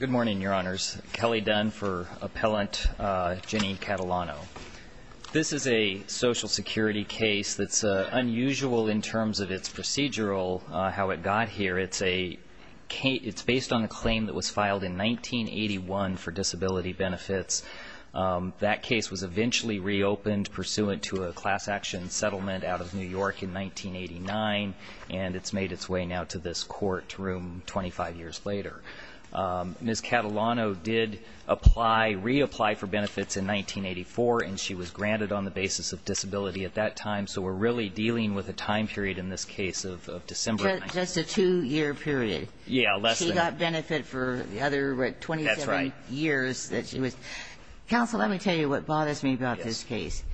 Good morning, Your Honors. Kelly Dunn for Appellant Jenny Catalano. This is a Social Security case that's unusual in terms of its procedural, how it got here. It's based on a claim that was filed in 1981 for disability benefits. That case was eventually reopened pursuant to a class action settlement out of New York in 1989, and it's made its way now to this court room 25 years later. Ms. Catalano did apply, reapply for benefits in 1984, and she was granted on the basis of disability at that time. So we're really dealing with a time period in this case of December. Just a two-year period. Yeah, less than. She got benefit for the other 27 years that she was. That's right. Counsel, let me tell you what bothers me about this case.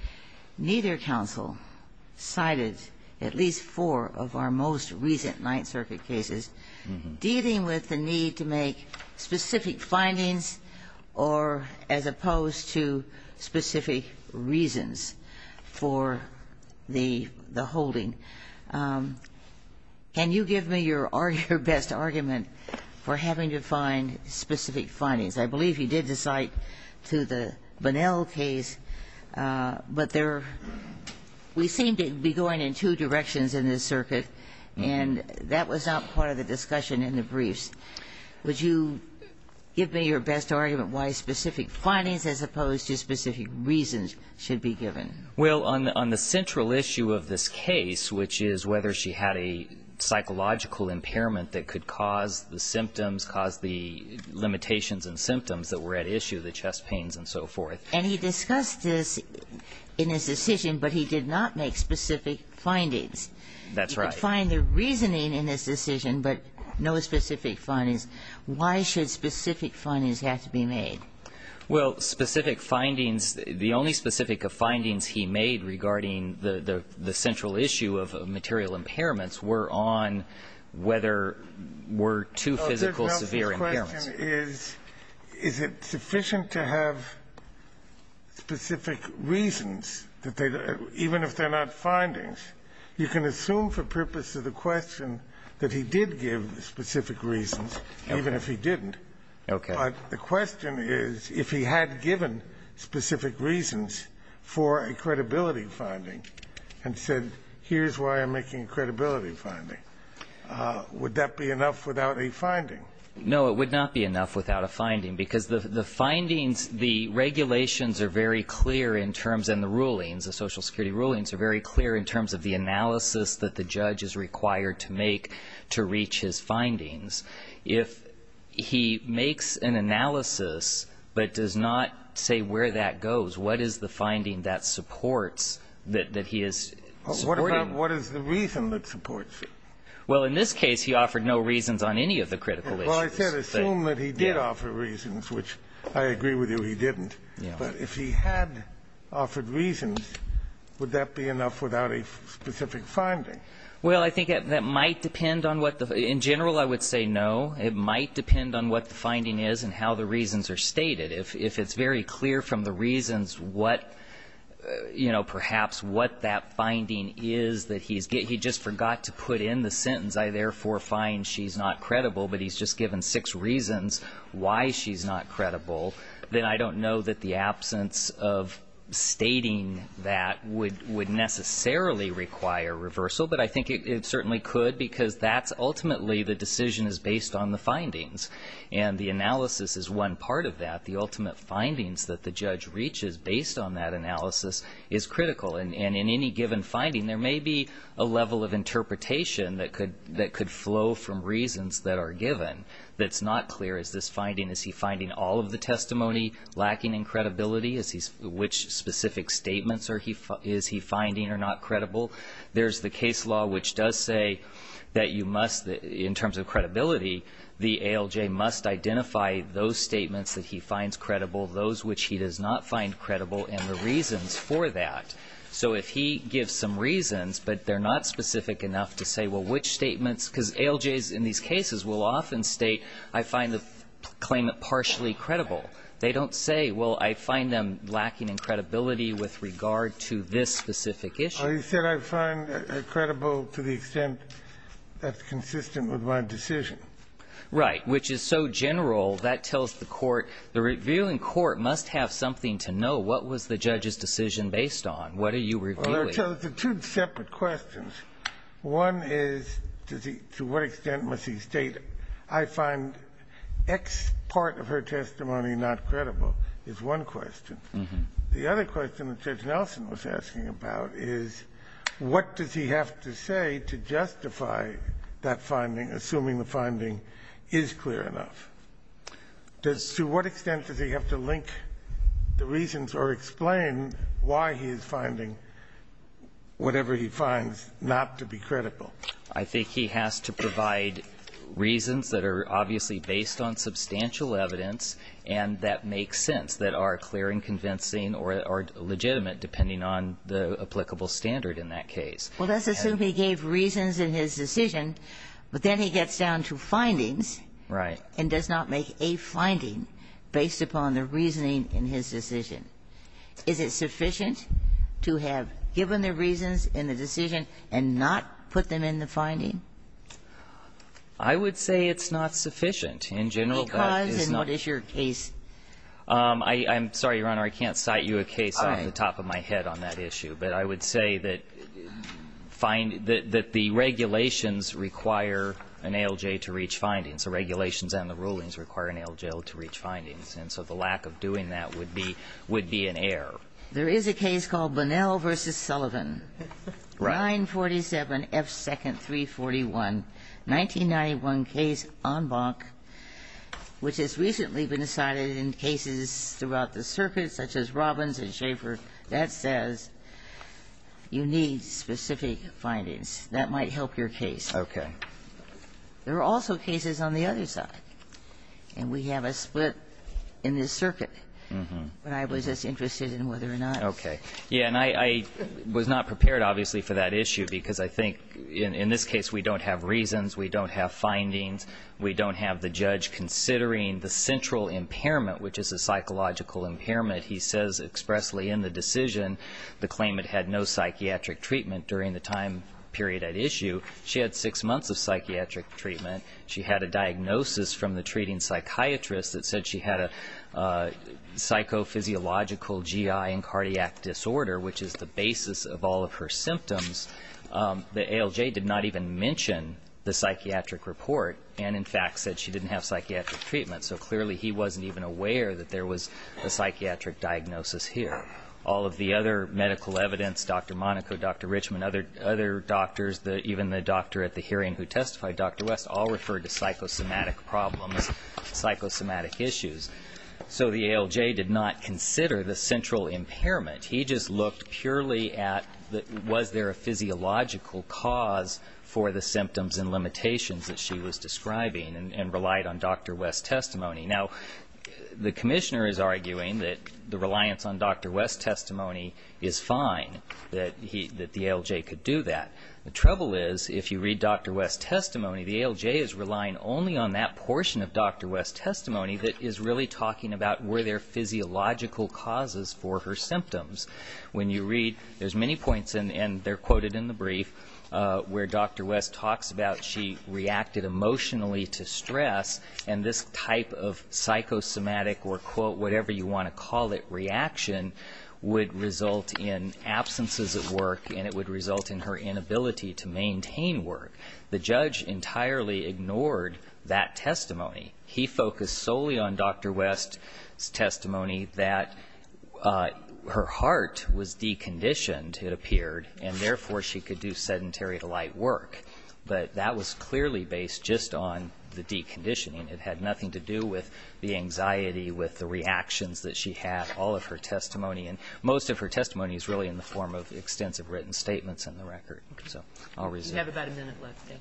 Yes. Your counsel cited at least four of our most recent Ninth Circuit cases dealing with the need to make specific findings or as opposed to specific reasons for the holding. Can you give me your best argument for having to find specific findings? I believe you did cite to the Bunnell case, but there we seem to be going in two directions in this circuit, and that was not part of the discussion in the briefs. Would you give me your best argument why specific findings as opposed to specific reasons should be given? Well, on the central issue of this case, which is whether she had a psychological impairment that could cause the symptoms, cause the limitations and symptoms that were at issue, the chest pains and so forth. And he discussed this in his decision, but he did not make specific findings. That's right. You could find the reasoning in his decision, but no specific findings. Why should specific findings have to be made? Well, specific findings, the only specific findings he made regarding the central issue of material impairments were on whether were two physical severe impairments. Is it sufficient to have specific reasons, even if they're not findings? You can assume for purpose of the question that he did give specific reasons, even if he didn't. Okay. But the question is if he had given specific reasons for a credibility finding and said, here's why I'm making a credibility finding, would that be enough without a finding? No, it would not be enough without a finding, because the findings, the regulations are very clear in terms and the rulings, the Social Security rulings are very clear in terms of the analysis that the judge is required to make to reach his findings. If he makes an analysis but does not say where that goes, what is the finding that supports that he is supporting? What is the reason that supports it? Well, in this case, he offered no reasons on any of the critical issues. Well, I said assume that he did offer reasons, which I agree with you, he didn't. But if he had offered reasons, would that be enough without a specific finding? Well, I think that might depend on what the ñ in general, I would say no. It might depend on what the finding is and how the reasons are stated. If it's very clear from the reasons what, you know, perhaps what that finding is that he just forgot to put in the sentence, I therefore find she's not credible, but he's just given six reasons why she's not credible, then I don't know that the absence of stating that would necessarily require reversal. But I think it certainly could, because that's ultimately the decision is based on the findings, and the analysis is one part of that. The ultimate findings that the judge reaches based on that analysis is critical. And in any given finding, there may be a level of interpretation that could flow from reasons that are given that's not clear. Is this finding, is he finding all of the testimony lacking in credibility? Which specific statements is he finding are not credible? There's the case law which does say that you must, in terms of credibility, the ALJ must identify those statements that he finds credible, those which he does not find credible, and the reasons for that. So if he gives some reasons, but they're not specific enough to say, well, which statements, because ALJs in these cases will often state, I find the claimant partially credible. They don't say, well, I find them lacking in credibility with regard to this specific issue. He said, I find credible to the extent that's consistent with my decision. Right. Which is so general, that tells the court, the revealing court must have something to know. What was the judge's decision based on? What are you revealing? Well, there are two separate questions. One is, to what extent must he state, I find X part of her testimony not credible is one question. The other question that Judge Nelson was asking about is, what does he have to say to justify that finding, assuming the finding is clear enough? Does to what extent does he have to link the reasons or explain why he is finding whatever he finds not to be credible? I think he has to provide reasons that are obviously based on substantial evidence and that make sense, that are clear and convincing or legitimate, depending on the applicable standard in that case. Well, let's assume he gave reasons in his decision, but then he gets down to findings. Right. And does not make a finding based upon the reasoning in his decision. Is it sufficient to have given the reasons in the decision and not put them in the finding? I would say it's not sufficient in general. Because? And what is your case? I'm sorry, Your Honor. I can't cite you a case off the top of my head on that issue. But I would say that the regulations require an ALJ to reach findings. The regulations and the rulings require an ALJ to reach findings. And so the lack of doing that would be an error. There is a case called Bunnell v. Sullivan. Right. 947F2nd341, 1991 case en banc, which has recently been cited in cases throughout the circuit, such as Robbins and Schaefer. That says you need specific findings. That might help your case. Okay. There are also cases on the other side. And we have a split in this circuit. But I was just interested in whether or not. Okay. Yeah, and I was not prepared, obviously, for that issue. Because I think in this case we don't have reasons. We don't have findings. We don't have the judge considering the central impairment, which is a psychological impairment. He says expressly in the decision the claimant had no psychiatric treatment during the time period at issue. She had six months of psychiatric treatment. She had a diagnosis from the treating psychiatrist that said she had a psychophysiological GI and cardiac disorder, which is the basis of all of her symptoms. The ALJ did not even mention the psychiatric report. And, in fact, said she didn't have psychiatric treatment. So clearly he wasn't even aware that there was a psychiatric diagnosis here. All of the other medical evidence, Dr. Monaco, Dr. Richmond, other doctors, even the doctor at the hearing who testified, Dr. West, all referred to psychosomatic problems, psychosomatic issues. So the ALJ did not consider the central impairment. He just looked purely at was there a physiological cause for the symptoms and limitations that she was describing and relied on Dr. West's testimony. Now, the commissioner is arguing that the reliance on Dr. West's testimony is fine, that the ALJ could do that. The trouble is if you read Dr. West's testimony, the ALJ is relying only on that portion of Dr. West's testimony that is really talking about were there physiological causes for her symptoms. When you read, there's many points, and they're quoted in the brief, where Dr. West talks about she reacted emotionally to stress, and this type of psychosomatic or, quote, whatever you want to call it, reaction would result in absences at work and it would result in her inability to maintain work. The judge entirely ignored that testimony. He focused solely on Dr. West's testimony that her heart was deconditioned, it appeared, and therefore, she could do sedentary to light work. But that was clearly based just on the deconditioning. It had nothing to do with the anxiety, with the reactions that she had, all of her testimony, and most of her testimony is really in the form of extensive written statements in the record. So I'll resume. We have about a minute left. Leo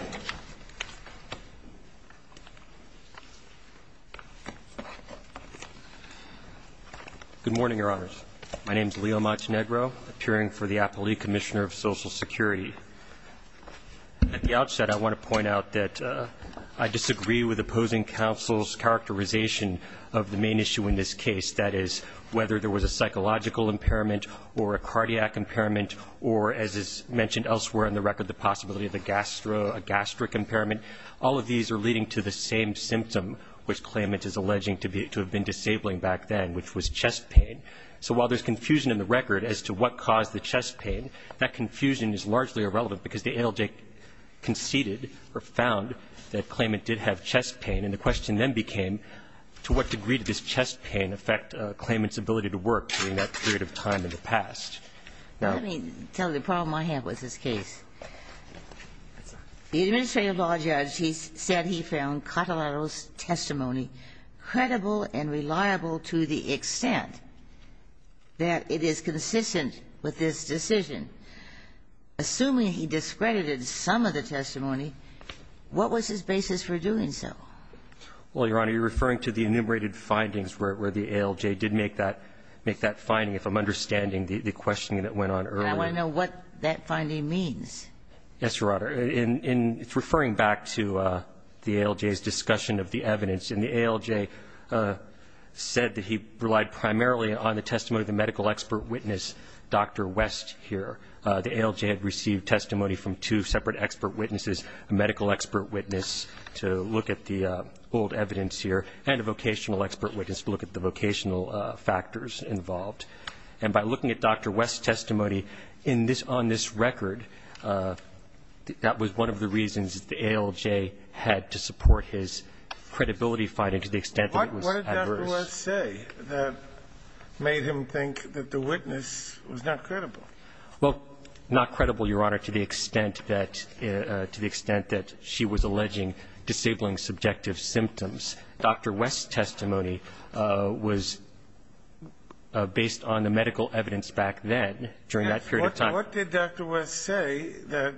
Machinegro. Good morning, Your Honors. My name is Leo Machinegro, appearing for the Appellee Commissioner of Social Security. At the outset, I want to point out that I disagree with opposing counsel's characterization of the main issue in this case, that is, whether there was a psychological impairment or a cardiac impairment or, as is mentioned elsewhere in the record, the possibility of a gastric impairment, all of these are leading to the same symptom which Claimant is alleging to have been disabling back then, which was chest pain. So while there's confusion in the record as to what caused the chest pain, that confusion is largely irrelevant because the ALJ conceded or found that Claimant did have chest pain, and the question then became to what degree did this chest pain affect Claimant's ability to work during that period of time in the past. Now let me tell you the problem I have with this case. The administrative law judge, he said he found Catalano's testimony credible and reliable to the extent that it is consistent with this decision. Assuming he discredited some of the testimony, what was his basis for doing so? Well, Your Honor, you're referring to the enumerated findings where the ALJ did make that finding, if I'm understanding the questioning that went on earlier. And I want to know what that finding means. Yes, Your Honor. In referring back to the ALJ's discussion of the evidence, and the ALJ said that he relied primarily on the testimony of the medical expert witness, Dr. West, here. The ALJ had received testimony from two separate expert witnesses, a medical expert witness to look at the old evidence here, and a vocational expert witness to look at the vocational factors involved. And by looking at Dr. West's testimony on this record, that was one of the reasons that the ALJ had to support his credibility finding to the extent that it was adverse. What did Dr. West say that made him think that the witness was not credible? Well, not credible, Your Honor, to the extent that she was alleging disabling subjective symptoms. Dr. West's testimony was based on the medical evidence back then, during that period of time. Yes. What did Dr. West say that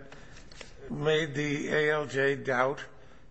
made the ALJ doubt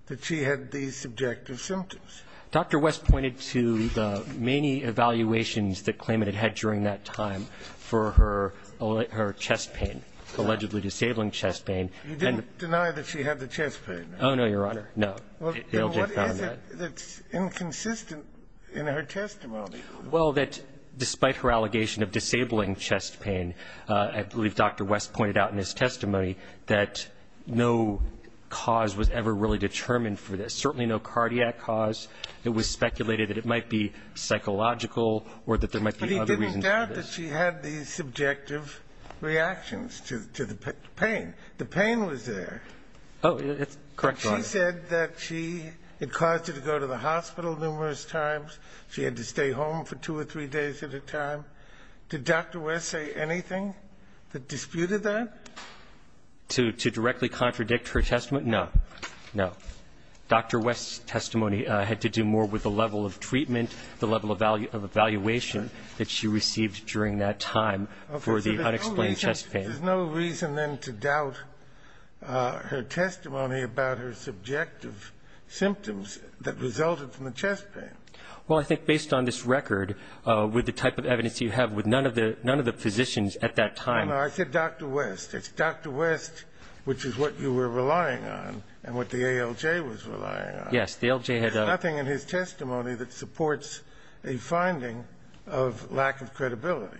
that she had these subjective symptoms? Dr. West pointed to the many evaluations that Clayman had had during that time for her chest pain, allegedly disabling chest pain. You didn't deny that she had the chest pain? Oh, no, Your Honor. No. ALJ found that. Well, then what is it that's inconsistent in her testimony? Well, that despite her allegation of disabling chest pain, I believe Dr. West pointed out in his testimony that no cause was ever really determined for this, certainly no cardiac cause. It was speculated that it might be psychological or that there might be other reasons for this. But she said that she had these subjective reactions to the pain. The pain was there. Oh, that's correct, Your Honor. She said that she had caused her to go to the hospital numerous times. She had to stay home for two or three days at a time. Did Dr. West say anything that disputed that? To directly contradict her testimony? No. No. Dr. West's testimony had to do more with the level of treatment, the level of evaluation that she received during that time for the unexplained chest pain. There's no reason, then, to doubt her testimony about her subjective symptoms that resulted from the chest pain. Well, I think based on this record, with the type of evidence you have, with none of the physicians at that time No, no. I said Dr. West. It's Dr. West, which is what you were relying on and what the ALJ was relying on. Yes. The ALJ had nothing in his testimony that supports a finding of lack of credibility.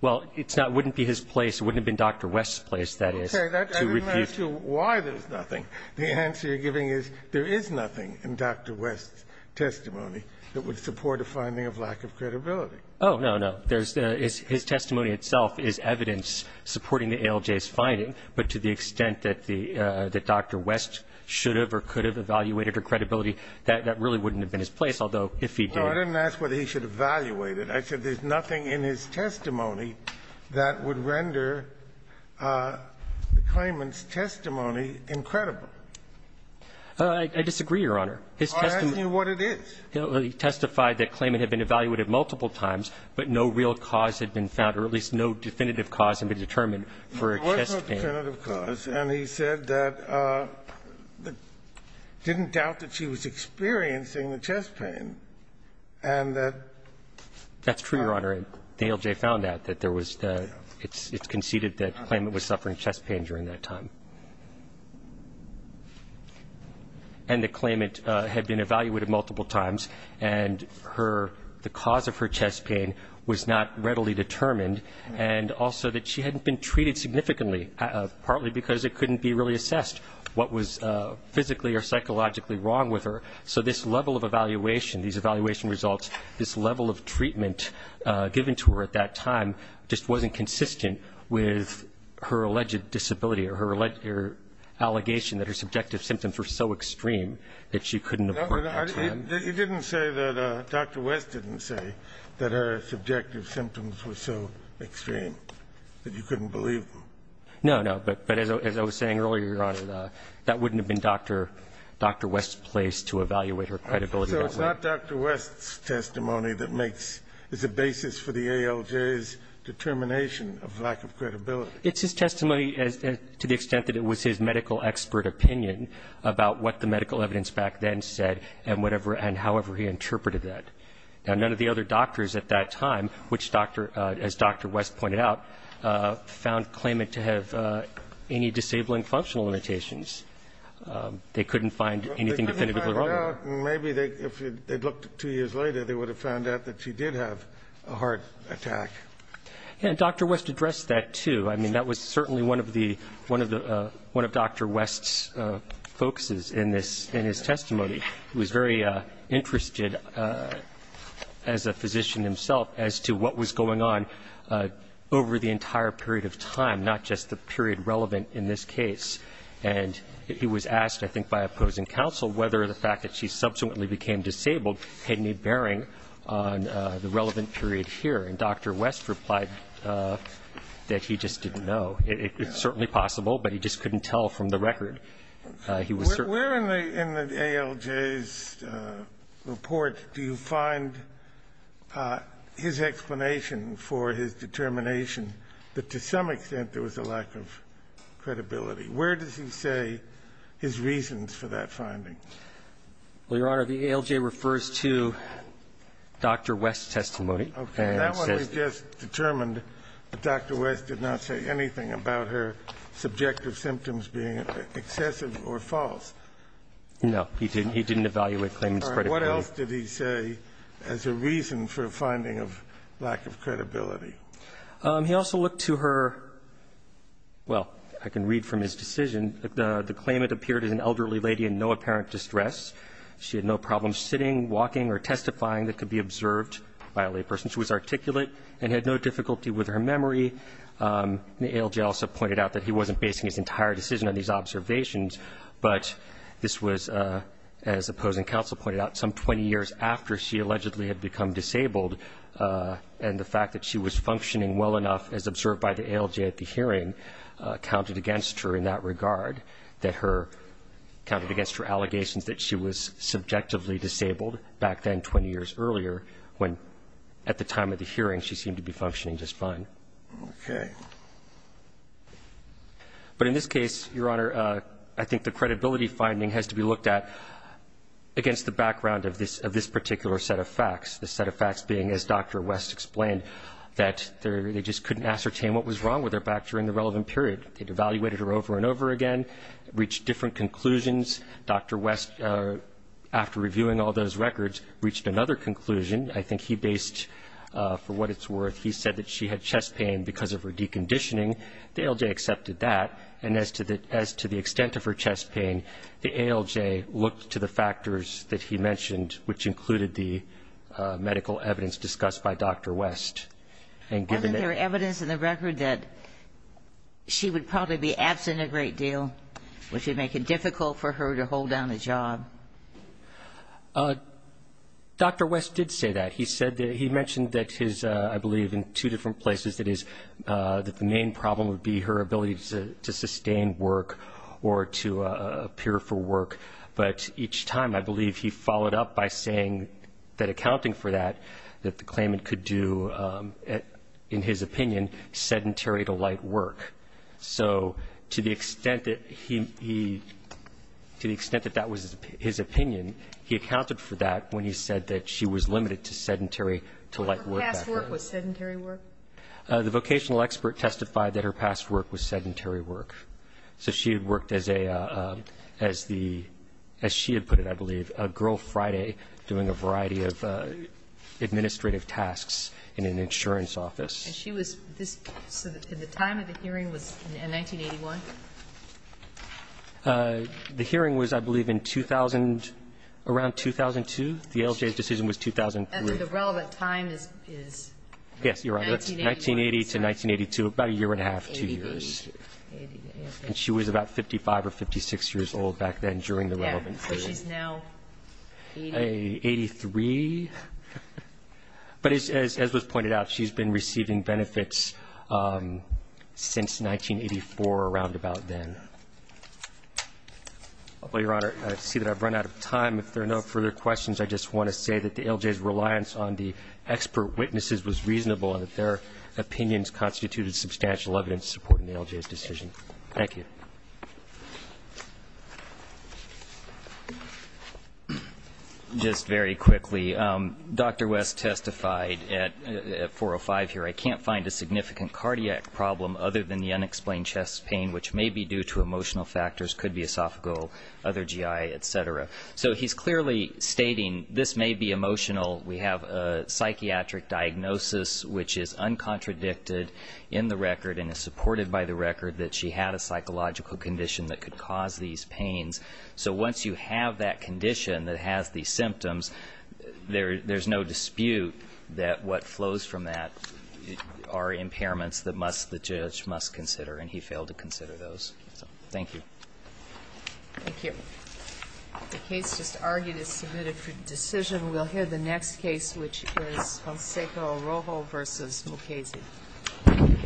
Well, it's not. It wouldn't be his place. It wouldn't have been Dr. West's place, that is. Okay. I didn't ask you why there's nothing. The answer you're giving is there is nothing in Dr. West's testimony that would support a finding of lack of credibility. Oh, no, no. There's his testimony itself is evidence supporting the ALJ's finding, but to the credibility that really wouldn't have been his place, although if he did. Well, I didn't ask whether he should evaluate it. I said there's nothing in his testimony that would render the claimant's testimony incredible. I disagree, Your Honor. I'm asking you what it is. He testified that claimant had been evaluated multiple times, but no real cause pain. There was no definitive cause, and he said that he didn't doubt that she was experiencing the chest pain, and that. That's true, Your Honor. The ALJ found out that there was the ‑‑ it's conceded that the claimant was suffering chest pain during that time. And the claimant had been evaluated multiple times, and her ‑‑ the cause of her chest pain was not readily determined, and also that she hadn't been treated significantly, partly because it couldn't be really assessed what was physically or psychologically wrong with her. So this level of evaluation, these evaluation results, this level of treatment given to her at that time just wasn't consistent with her alleged disability or her allegation that her subjective symptoms were so extreme that she couldn't have worked that time. You didn't say that ‑‑ Dr. West didn't say that her subjective symptoms were so extreme. No, no. But as I was saying earlier, Your Honor, that wouldn't have been Dr. West's place to evaluate her credibility that way. So it's not Dr. West's testimony that makes ‑‑ is a basis for the ALJ's determination of lack of credibility. It's his testimony to the extent that it was his medical expert opinion about what the medical evidence back then said and whatever and however he interpreted that. Now, none of the other doctors at that time, which Dr. ‑‑ as Dr. West pointed out, found claimant to have any disabling functional limitations. They couldn't find anything definitively wrong with her. Well, they couldn't find out, and maybe if they'd looked two years later, they would have found out that she did have a heart attack. Yeah, and Dr. West addressed that, too. I mean, that was certainly one of the ‑‑ one of Dr. West's focuses in this, in his testimony. He was very interested as a physician himself as to what was going on over the entire period of time, not just the period relevant in this case. And he was asked, I think by opposing counsel, whether the fact that she subsequently became disabled had any bearing on the relevant period here. And Dr. West replied that he just didn't know. It's certainly possible, but he just couldn't tell from the record. He was ‑‑ Where in the ALJ's report do you find his explanation for his determination that to some extent there was a lack of credibility? Where does he say his reasons for that finding? Well, Your Honor, the ALJ refers to Dr. West's testimony. Okay. That one he just determined that Dr. West did not say anything about her subjective symptoms being excessive or false. No, he didn't. He didn't evaluate claimant's credibility. All right. What else did he say as a reason for a finding of lack of credibility? He also looked to her ‑‑ well, I can read from his decision. The claimant appeared as an elderly lady in no apparent distress. She had no problems sitting, walking, or testifying that could be observed by a layperson. She was articulate and had no difficulty with her memory. The ALJ also pointed out that he wasn't basing his entire decision on these observations, but this was, as opposing counsel pointed out, some 20 years after she allegedly had become disabled, and the fact that she was functioning well enough as observed by the ALJ at the hearing counted against her in that regard, that her ‑‑ counted against her allegations that she was subjectively disabled back then 20 years earlier, when at the time of the hearing she seemed to be functioning just fine. Okay. But in this case, Your Honor, I think the credibility finding has to be looked at against the background of this particular set of facts, the set of facts being, as Dr. West explained, that they just couldn't ascertain what was wrong with her back during the relevant period. They'd evaluated her over and over again, reached different conclusions. Dr. West, after reviewing all those records, reached another conclusion. I think he based, for what it's worth, he said that she had chest pain because of her deconditioning. The ALJ accepted that. And as to the extent of her chest pain, the ALJ looked to the factors that he mentioned, which included the medical evidence discussed by Dr. West. And given that ‑‑ Wasn't there evidence in the record that she would probably be absent a great deal, which would make it difficult for her to hold down a job? Dr. West did say that. He mentioned that his, I believe, in two different places, that the main problem would be her ability to sustain work or to appear for work. But each time, I believe, he followed up by saying that accounting for that, that the claimant could do, in his opinion, sedentary to light work. So to the extent that he ‑‑ to the extent that that was his opinion, he accounted for that when he said that she was limited to sedentary to light work. But her past work was sedentary work? The vocational expert testified that her past work was sedentary work. So she had worked as a, as the ‑‑ as she had put it, I believe, a Girl Friday doing a variety of administrative tasks in an insurance office. And she was this ‑‑ so the time of the hearing was in 1981? The hearing was, I believe, in 2000, around 2002. The ALJ's decision was 2003. And then the relevant time is? Yes, you're right. 1980 to 1982. About a year and a half, two years. And she was about 55 or 56 years old back then during the relevant period. Yeah. So she's now 80? 83. But as was pointed out, she's been receiving benefits since 1984, around about then. Well, Your Honor, I see that I've run out of time. If there are no further questions, I just want to say that the ALJ's reliance on the expert witnesses was reasonable and that their opinions constituted substantial evidence supporting the ALJ's decision. Thank you. Just very quickly, Dr. West testified at 405 here, I can't find a significant cardiac problem other than the unexplained chest pain, which may be due to emotional factors, could be esophageal, other GI, et cetera. So he's clearly stating this may be emotional. We have a psychiatric diagnosis which is uncontradicted in the record and is supported by the record that she had a psychological condition that could cause these pains. So once you have that condition that has these symptoms, there's no dispute that what flows from that are impairments that must the judge must consider, and he failed to consider those. So thank you. Thank you. The case just argued is submitted for decision. We'll hear the next case, which is Fonseca-Arrojo v. Mukasey. Thank you.